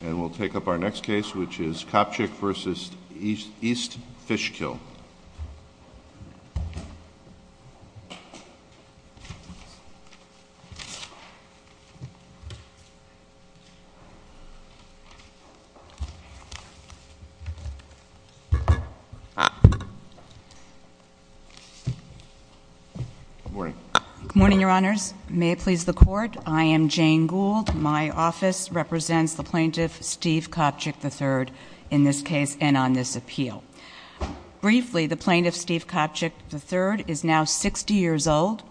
And we'll take up our next case, which is Kopchik v. East Fishkill. Good morning. Good morning, Your Honors. May it please the Court, I am Jane Gould. My office represents the plaintiff, Steve Kopchik III, in this case and on this appeal. Briefly, the plaintiff, Steve Kopchik III, is now 60 years old.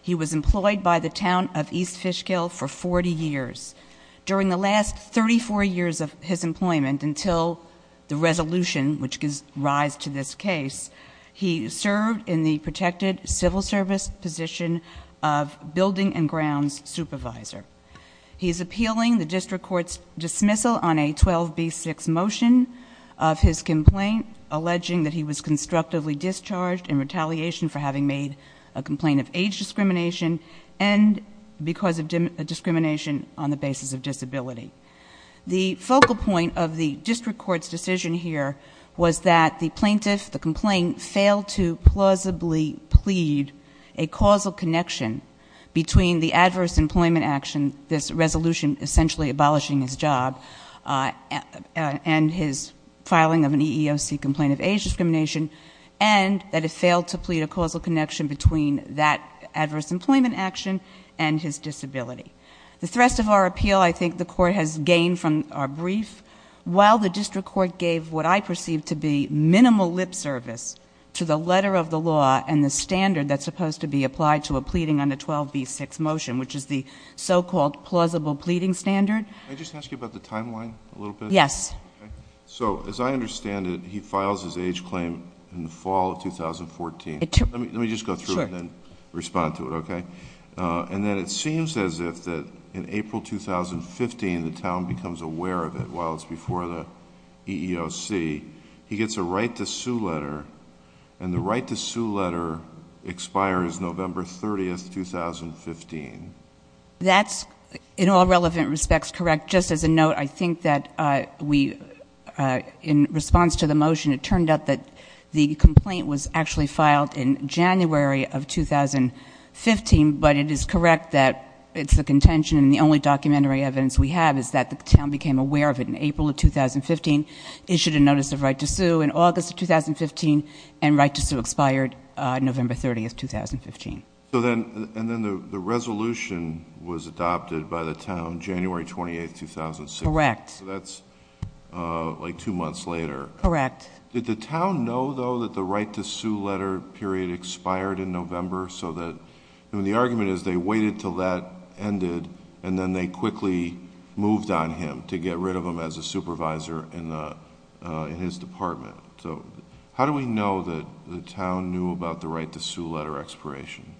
He was employed by the Town of East Fishkill for 40 years. During the last 34 years of his employment until the resolution, which gives rise to this case, he served in the protected civil service position of building and grounds supervisor. He is appealing the district court's dismissal on a 12B6 motion of his complaint, alleging that he was constructively discharged in retaliation for having made a complaint of age discrimination and because of discrimination on the basis of disability. The focal point of the district court's decision here was that the plaintiff, the complaint, failed to plausibly plead a causal connection between the adverse employment action, this resolution essentially abolishing his job and his filing of an EEOC complaint of age discrimination, and that it failed to plead a causal connection between that adverse employment action and his disability. The thrust of our appeal, I think, the court has gained from our brief. While the district court gave what I perceive to be minimal lip service to the letter of the law and the standard that's supposed to be applied to a pleading on a 12B6 motion, which is the so-called plausible pleading standard... Can I just ask you about the timeline a little bit? Yes. So, as I understand it, he files his age claim in the fall of 2014. Let me just go through it and then respond to it, okay? And then it seems as if in April 2015 the town becomes aware of it while it's before the EEOC. He gets a right to sue letter, and the right to sue letter expires November 30, 2015. That's, in all relevant respects, correct. Just as a note, I think that we, in response to the motion, it turned out that the complaint was actually filed in January of 2015, but it is correct that it's the contention and the only documentary evidence we have is that the town became aware of it in April of 2015, issued a notice of right to sue in August of 2015, and right to sue expired November 30, 2015. And then the resolution was adopted by the town January 28, 2016. Correct. So that's like two months later. Correct. Did the town know, though, that the right to sue letter period expired in November so that... I mean, the argument is they waited until that ended and then they quickly moved on him to get rid of him as a supervisor in his department. So how do we know that the town knew about the right to sue letter expiration?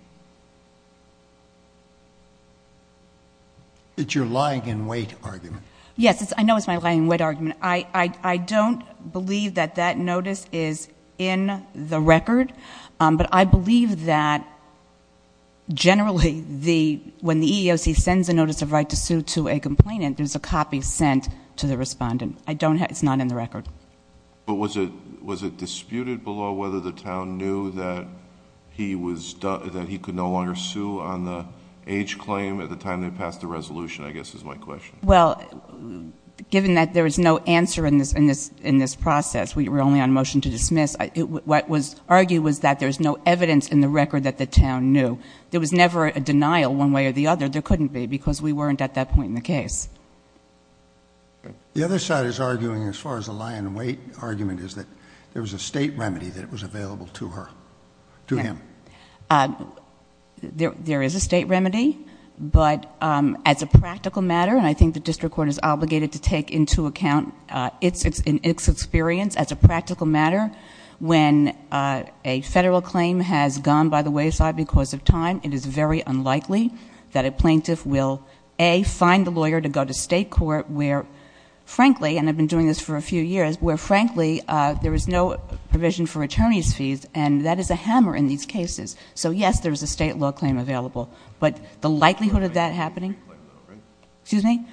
It's your lying in wait argument. Yes, I know it's my lying in wait argument. I don't believe that that notice is in the record, but I believe that generally when the EEOC sends a notice of right to sue to a complainant, there's a copy sent to the respondent. It's not in the record. But was it disputed below whether the town knew that he could no longer sue on the age claim at the time they passed the resolution, I guess is my question. Well, given that there is no answer in this process, we were only on motion to dismiss, what was argued was that there's no evidence in the record that the town knew. There was never a denial one way or the other. There couldn't be because we weren't at that point in the case. The other side is arguing, as far as the lying in wait argument, is that there was a state remedy that was available to her, to him. There is a state remedy, but as a practical matter, and I think the district court is obligated to take into account its experience as a practical matter, when a federal claim has gone by the wayside because of time, it is very unlikely that a plaintiff will, A, find the lawyer to go to state court where, frankly, and I've been doing this for a few years, where, frankly, there is no provision for attorney's fees, and that is a hammer in these cases. So, yes, there is a state law claim available, but the likelihood of that happening? Excuse me?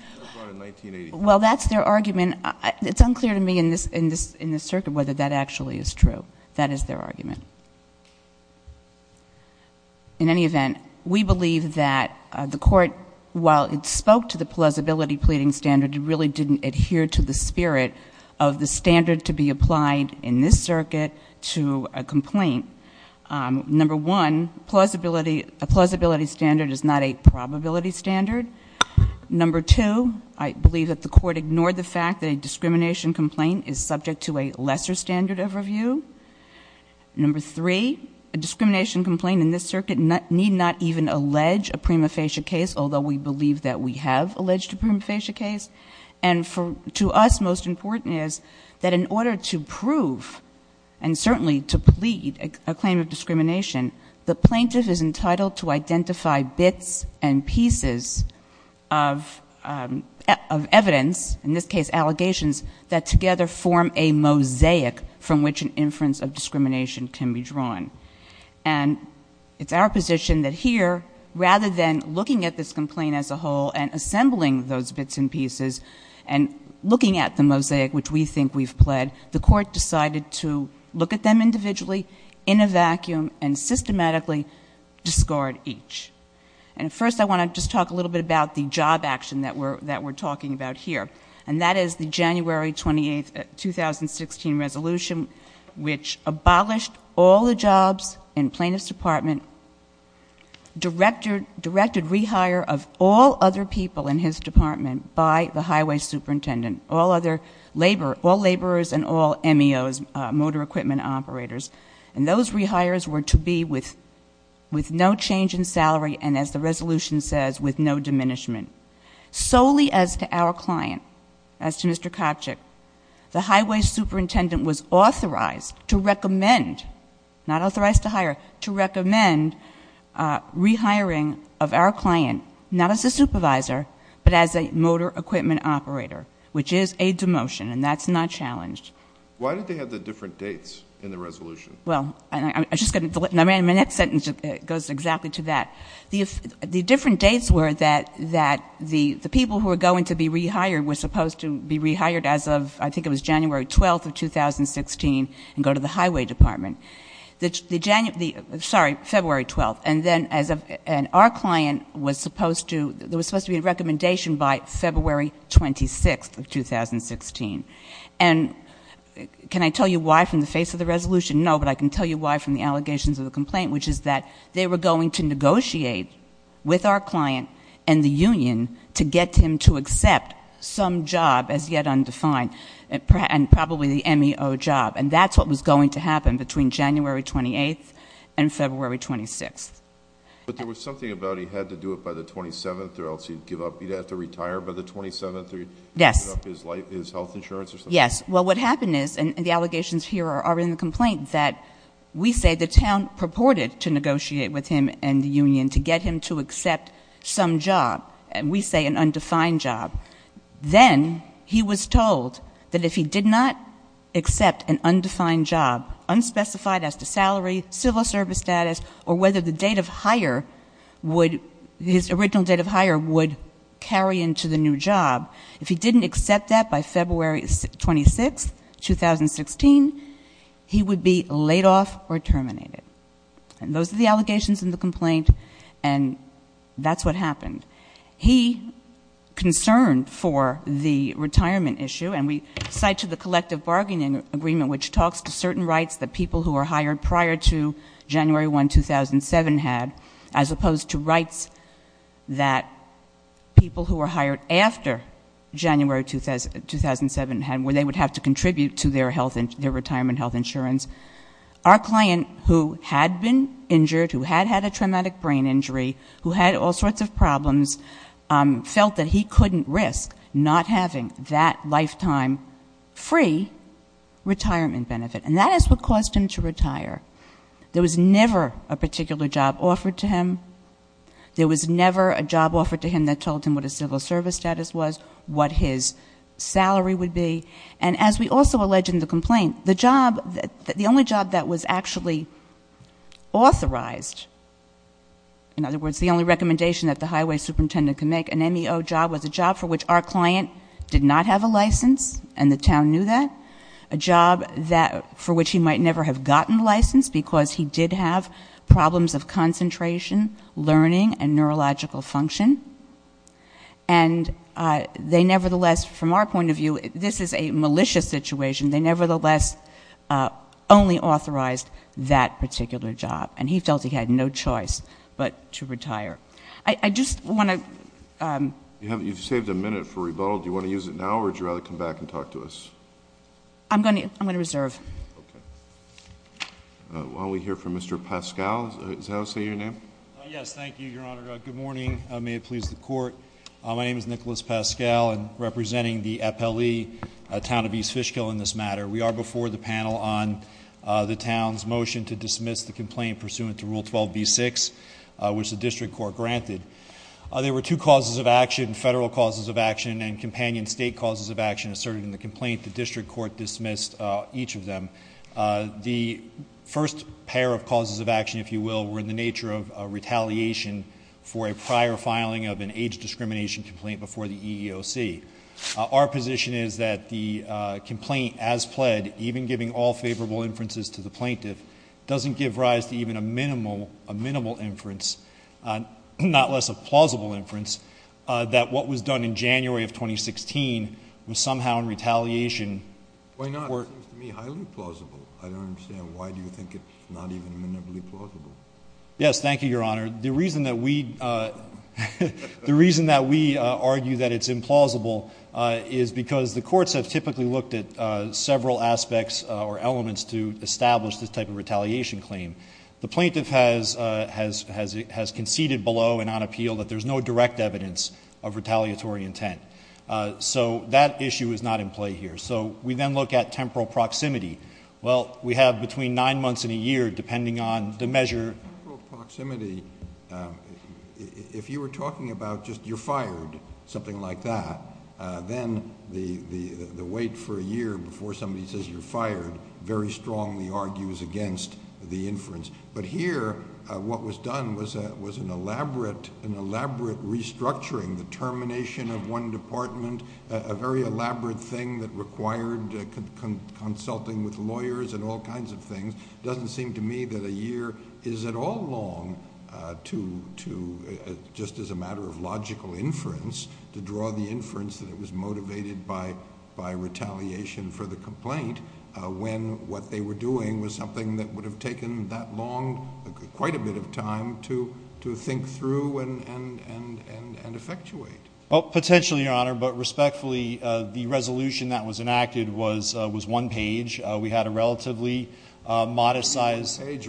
Well, that's their argument. It's unclear to me in this circuit whether that actually is true. That is their argument. In any event, we believe that the court, while it spoke to the plausibility pleading standard, really didn't adhere to the spirit of the standard to be applied in this circuit to a complaint. Number one, a plausibility standard is not a probability standard. Number two, I believe that the court ignored the fact that a discrimination complaint is subject to a lesser standard of review. Number three, a discrimination complaint in this circuit need not even allege a prima facie case, although we believe that we have alleged a prima facie case. And to us, most important is that in order to prove and certainly to plead a claim of discrimination, the plaintiff is entitled to identify bits and pieces of evidence, in this case allegations, that together form a mosaic from which an inference of discrimination can be drawn. And it's our position that here, rather than looking at this complaint as a whole and assembling those bits and pieces, and looking at the mosaic which we think we've pled, the court decided to look at them individually, in a vacuum, and systematically discard each. And first, I want to just talk a little bit about the job action that we're talking about here. And that is the January 28th, 2016 resolution, which abolished all the jobs in plaintiff's department, directed rehire of all other people in his department by the highway superintendent, all laborers and all MEOs, motor equipment operators. And those rehires were to be with no change in salary, and as the resolution says, with no diminishment. Solely as to our client, as to Mr. Kopchick, the highway superintendent was authorized to recommend, not authorized to hire, to recommend rehiring of our client, not as a supervisor, but as a motor equipment operator, which is a demotion, and that's not challenged. Why did they have the different dates in the resolution? Well, I'm just going to delete it. My next sentence goes exactly to that. The different dates were that the people who were going to be rehired were supposed to be rehired as of, I think it was January 12th of 2016, and go to the highway department. Sorry, February 12th. And then our client was supposed to be in recommendation by February 26th of 2016. And can I tell you why from the face of the resolution? No, but I can tell you why from the allegations of the complaint, which is that they were going to negotiate with our client and the union to get him to accept some job as yet undefined, and probably the MEO job, and that's what was going to happen between January 28th and February 26th. But there was something about he had to do it by the 27th or else he'd give up. He'd have to retire by the 27th or give up his health insurance or something? Yes. Well, what happened is, and the allegations here are in the complaint, that we say the town purported to negotiate with him and the union to get him to accept some job, and we say an undefined job. Then he was told that if he did not accept an undefined job, unspecified as to salary, civil service status, or whether the date of hire would, his original date of hire would carry into the new job, if he didn't accept that by February 26th, 2016, he would be laid off or terminated. And those are the allegations in the complaint, and that's what happened. He concerned for the retirement issue, and we cite to the collective bargaining agreement, which talks to certain rights that people who were hired prior to January 1, 2007, had, as opposed to rights that people who were hired after January 2, 2007 had, where they would have to contribute to their retirement health insurance. Our client, who had been injured, who had had a traumatic brain injury, who had all sorts of problems, felt that he couldn't risk not having that lifetime free retirement benefit, and that is what caused him to retire. There was never a particular job offered to him. There was never a job offered to him that told him what his civil service status was, what his salary would be. And as we also allege in the complaint, the only job that was actually authorized, in other words, the only recommendation that the highway superintendent could make, an MEO job was a job for which our client did not have a license, and the town knew that, a job for which he might never have gotten a license because he did have problems of concentration, learning, and neurological function. And they nevertheless, from our point of view, this is a malicious situation. They nevertheless only authorized that particular job, and he felt he had no choice but to retire. I just want to ‑‑ You've saved a minute for rebuttal. Do you want to use it now, or would you rather come back and talk to us? I'm going to reserve. Okay. Why don't we hear from Mr. Pascal. Is that how I say your name? Yes, thank you, Your Honor. Good morning. May it please the Court. My name is Nicholas Pascal, and representing the FLE, Town of East Fishkill, in this matter. We are before the panel on the town's motion to dismiss the complaint pursuant to Rule 12b-6, which the district court granted. There were two causes of action, federal causes of action and companion state causes of action asserted in the complaint. The district court dismissed each of them. The first pair of causes of action, if you will, were in the nature of retaliation for a prior filing of an age discrimination complaint before the EEOC. Our position is that the complaint, as pled, even giving all favorable inferences to the plaintiff, doesn't give rise to even a minimal inference, not less a plausible inference, that what was done in January of 2016 was somehow in retaliation. Why not? It seems to me highly plausible. I don't understand. Why do you think it's not even minimally plausible? Yes, thank you, Your Honor. The reason that we argue that it's implausible is because the courts have typically looked at several aspects or elements to establish this type of retaliation claim. The plaintiff has conceded below and on appeal that there's no direct evidence of retaliatory intent. So that issue is not in play here. So we then look at temporal proximity. Well, we have between nine months and a year depending on the measure. Temporal proximity, if you were talking about just you're fired, something like that, then the wait for a year before somebody says you're fired very strongly argues against the inference. But here what was done was an elaborate restructuring, the termination of one department, a very elaborate thing that required consulting with lawyers and all kinds of things. It doesn't seem to me that a year is at all long to, just as a matter of logical inference, to draw the inference that it was motivated by retaliation for the complaint when what they were doing was something that would have taken that long, quite a bit of time, to think through and effectuate. Potentially, Your Honor, but respectfully, the resolution that was enacted was one page. We had a relatively modest size. It was a one-page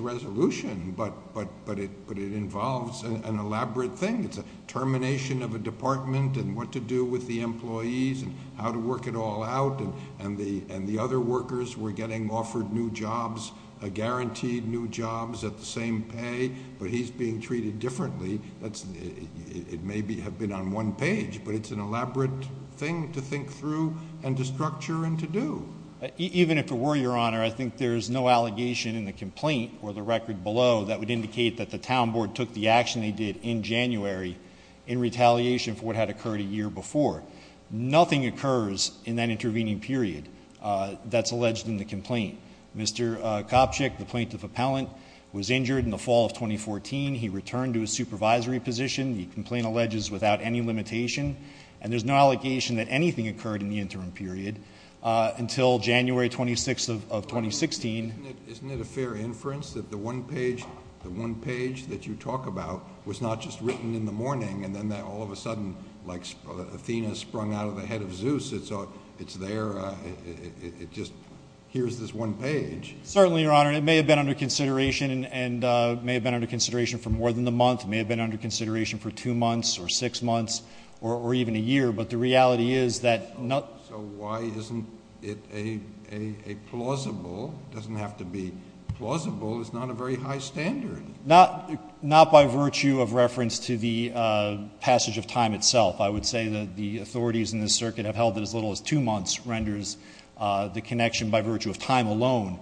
resolution, but it involves an elaborate thing. It's a termination of a department and what to do with the employees and how to work it all out. And the other workers were getting offered new jobs, guaranteed new jobs at the same pay, but he's being treated differently. It may have been on one page, but it's an elaborate thing to think through and to structure and to do. Even if it were, Your Honor, I think there's no allegation in the complaint or the record below that would indicate that the town board took the action they did in January in retaliation for what had occurred a year before. Nothing occurs in that intervening period that's alleged in the complaint. Mr. Kopchick, the plaintiff appellant, was injured in the fall of 2014. He returned to his supervisory position. The complaint alleges without any limitation. And there's no allegation that anything occurred in the interim period until January 26th of 2016. Isn't it a fair inference that the one page that you talk about was not just written in the morning and then all of a sudden, like Athena sprung out of the head of Zeus, it's there, it just hears this one page? Certainly, Your Honor. It may have been under consideration and may have been under consideration for more than a month. It may have been under consideration for two months or six months or even a year. But the reality is that not – So why isn't it a plausible – it doesn't have to be plausible. It's not a very high standard. Not by virtue of reference to the passage of time itself. I would say that the authorities in this circuit have held that as little as two months renders the connection by virtue of time alone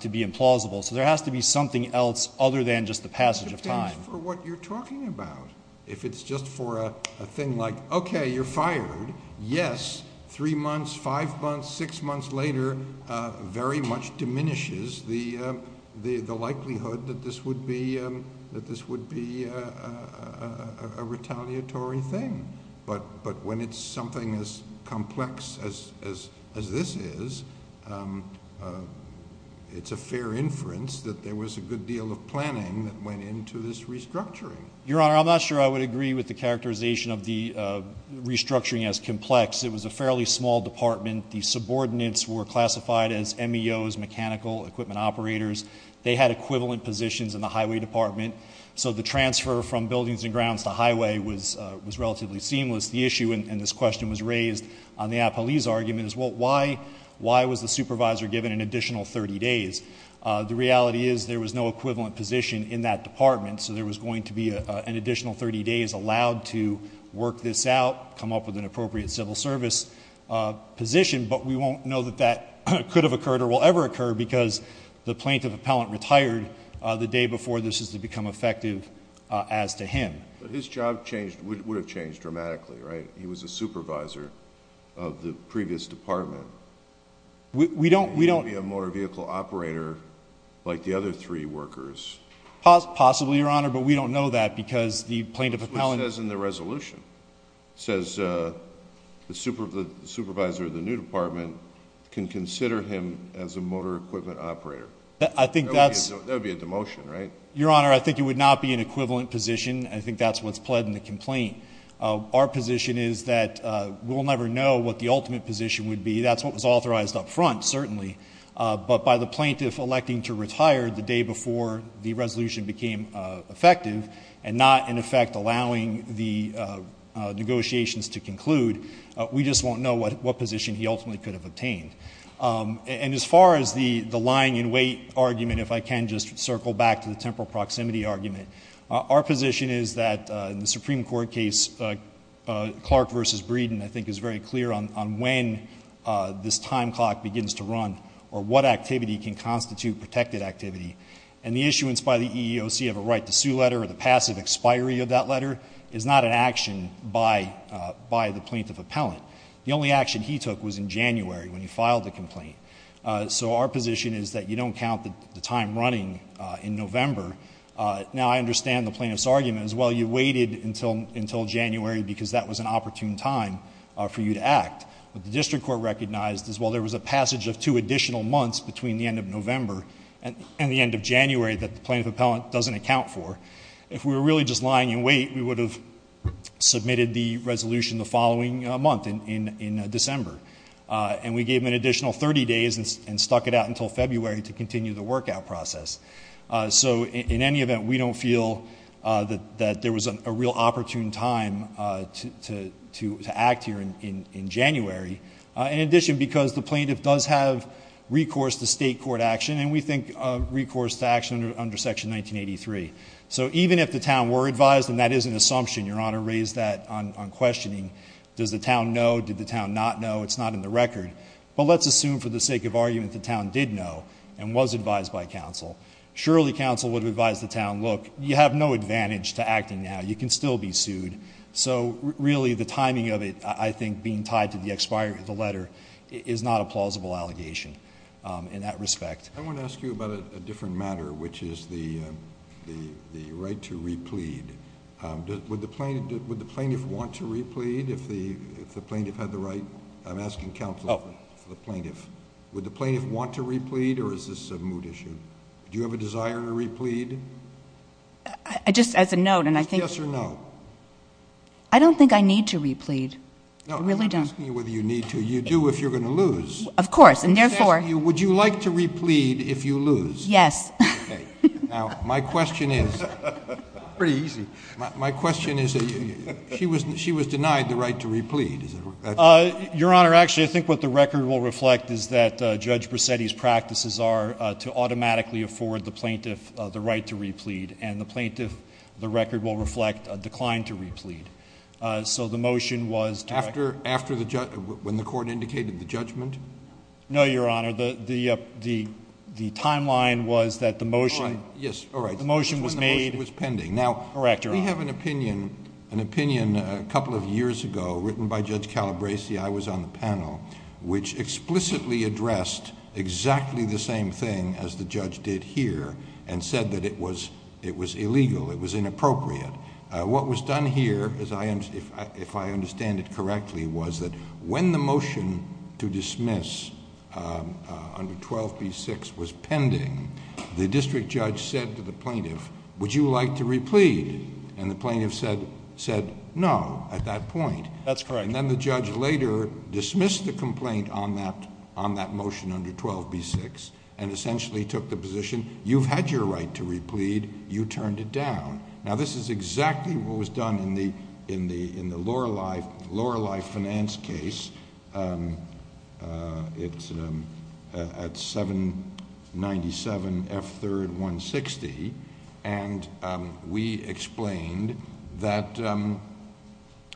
to be implausible. So there has to be something else other than just the passage of time. It depends for what you're talking about. If it's just for a thing like, okay, you're fired, yes, three months, five months, six months later, very much diminishes the likelihood that this would be a retaliatory thing. But when it's something as complex as this is, it's a fair inference that there was a good deal of planning that went into this restructuring. Your Honor, I'm not sure I would agree with the characterization of the restructuring as complex. It was a fairly small department. The subordinates were classified as MEOs, mechanical equipment operators. They had equivalent positions in the highway department. So the transfer from buildings and grounds to highway was relatively seamless. The issue, and this question was raised on the appellee's argument, is why was the supervisor given an additional 30 days? The reality is there was no equivalent position in that department. So there was going to be an additional 30 days allowed to work this out, come up with an appropriate civil service position. But we won't know that that could have occurred or will ever occur because the plaintiff appellant retired the day before this is to become effective as to him. But his job would have changed dramatically, right? He was a supervisor of the previous department. We don't. He would be a motor vehicle operator like the other three workers. Possibly, Your Honor, but we don't know that because the plaintiff appellant- But it says in the resolution. It says the supervisor of the new department can consider him as a motor equipment operator. I think that's- That would be a demotion, right? Your Honor, I think it would not be an equivalent position. I think that's what's pled in the complaint. Our position is that we'll never know what the ultimate position would be. That's what was authorized up front, certainly. But by the plaintiff electing to retire the day before the resolution became effective and not, in effect, allowing the negotiations to conclude, we just won't know what position he ultimately could have obtained. And as far as the lying in wait argument, if I can just circle back to the temporal proximity argument, our position is that in the Supreme Court case, Clark v. Breeden, I think, is very clear on when this time clock begins to run or what activity can constitute protected activity. And the issuance by the EEOC of a right to sue letter or the passive expiry of that letter is not an action by the plaintiff appellant. The only action he took was in January when he filed the complaint. So our position is that you don't count the time running in November. Now, I understand the plaintiff's argument as well. You waited until January because that was an opportune time for you to act. But the district court recognized as well there was a passage of two additional months between the end of November and the end of January that the plaintiff appellant doesn't account for. If we were really just lying in wait, we would have submitted the resolution the following month in December. And we gave him an additional 30 days and stuck it out until February to continue the work out process. So in any event, we don't feel that there was a real opportune time to act here in January. In addition, because the plaintiff does have recourse to state court action, and we think recourse to action under Section 1983. So even if the town were advised, and that is an assumption, Your Honor raised that on questioning. Does the town know? Did the town not know? It's not in the record. But let's assume for the sake of argument the town did know and was advised by counsel. Surely counsel would have advised the town, look, you have no advantage to acting now. You can still be sued. So really the timing of it, I think, being tied to the expiry of the letter is not a plausible allegation in that respect. I want to ask you about a different matter, which is the right to replead. Would the plaintiff want to replead if the plaintiff had the right? I'm asking counsel for the plaintiff. Would the plaintiff want to replead, or is this a mood issue? Do you have a desire to replead? Just as a note, and I think. Yes or no? I don't think I need to replead. I really don't. I'm not asking you whether you need to. You do if you're going to lose. Of course, and therefore. I'm just asking you, would you like to replead if you lose? Yes. Okay. Now, my question is. Pretty easy. My question is, she was denied the right to replead. Your Honor, actually, I think what the record will reflect is that Judge Bracetti's practices are to automatically afford the plaintiff the right to replead. And the plaintiff, the record will reflect a decline to replead. So the motion was. After when the court indicated the judgment? No, Your Honor. The timeline was that the motion. The motion was made. When the motion was pending. Correct, Your Honor. Now, we have an opinion a couple of years ago, written by Judge Calabresi. I was on the panel, which explicitly addressed exactly the same thing as the judge did here, and said that it was illegal, it was inappropriate. What was done here, if I understand it correctly, was that when the motion to dismiss under 12b-6 was pending, the district judge said to the plaintiff, would you like to replead? And the plaintiff said, no, at that point. That's correct. And then the judge later dismissed the complaint on that motion under 12b-6, and essentially took the position, you've had your right to replead. You turned it down. Now, this is exactly what was done in the Lorelei finance case. It's at 797 F. 3rd, 160. And we explained that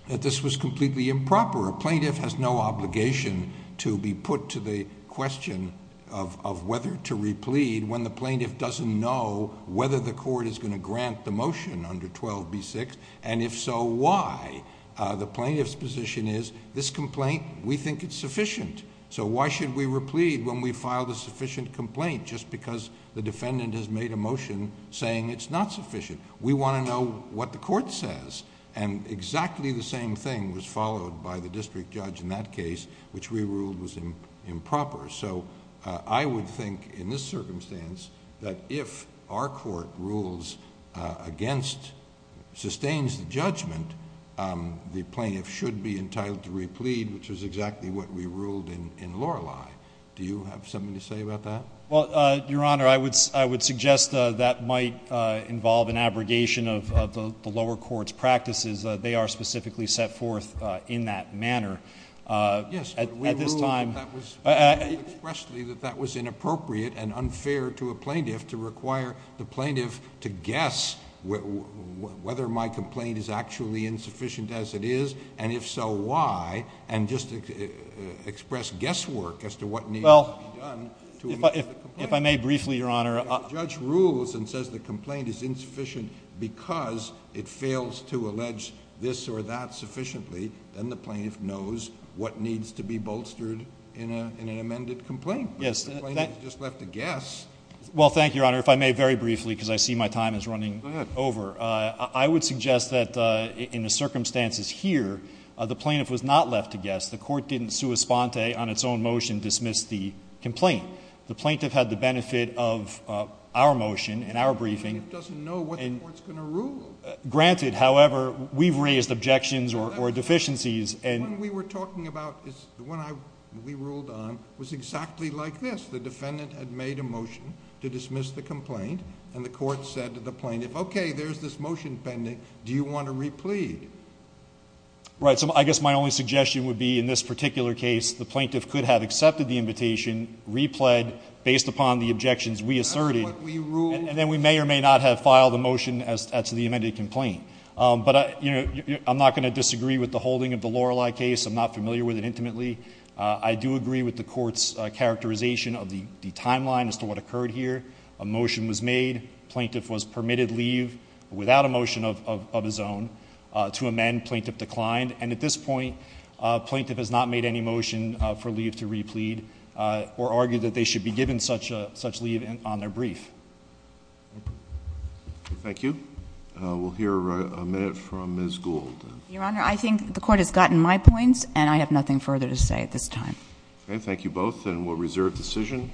this was completely improper. A plaintiff has no obligation to be put to the question of whether to replead when the plaintiff doesn't know whether the court is going to grant the motion under 12b-6. And if so, why? The plaintiff's position is, this complaint, we think it's sufficient. So why should we replead when we filed a sufficient complaint, just because the defendant has made a motion saying it's not sufficient? We want to know what the court says. And exactly the same thing was followed by the district judge in that case, which we ruled was improper. So I would think in this circumstance that if our court rules against, sustains the judgment, the plaintiff should be entitled to replead, which is exactly what we ruled in Lorelei. Do you have something to say about that? Well, Your Honor, I would suggest that might involve an abrogation of the lower court's practices. They are specifically set forth in that manner. Yes, but we ruled expressly that that was inappropriate and unfair to a plaintiff to require the plaintiff to guess whether my complaint is actually insufficient as it is. And if so, why? And just express guesswork as to what needs to be done. If I may briefly, Your Honor. If the judge rules and says the complaint is insufficient because it fails to allege this or that sufficiently, then the plaintiff knows what needs to be bolstered in an amended complaint. Yes. The plaintiff just left to guess. Well, thank you, Your Honor. If I may very briefly because I see my time is running over. Go ahead. I would suggest that in the circumstances here, the plaintiff was not left to guess. The court didn't sua sponte on its own motion dismiss the complaint. The plaintiff had the benefit of our motion and our briefing. The plaintiff doesn't know what the court's going to rule. Granted, however, we've raised objections or deficiencies. The one we were talking about, the one we ruled on, was exactly like this. The defendant had made a motion to dismiss the complaint, and the court said to the plaintiff, okay, there's this motion pending. Do you want to replead? Right. So I guess my only suggestion would be in this particular case, the plaintiff could have accepted the invitation, replead based upon the objections we asserted, and then we may or may not have filed a motion as to the amended complaint. But I'm not going to disagree with the holding of the Lorelei case. I'm not familiar with it intimately. I do agree with the court's characterization of the timeline as to what occurred here. A motion was made. The plaintiff was permitted leave without a motion of his own. To amend, plaintiff declined. And at this point, plaintiff has not made any motion for leave to replead or argued that they should be given such leave on their brief. Thank you. We'll hear a minute from Ms. Gould. Your Honor, I think the court has gotten my points, and I have nothing further to say at this time. Okay, thank you both, and we'll reserve decision.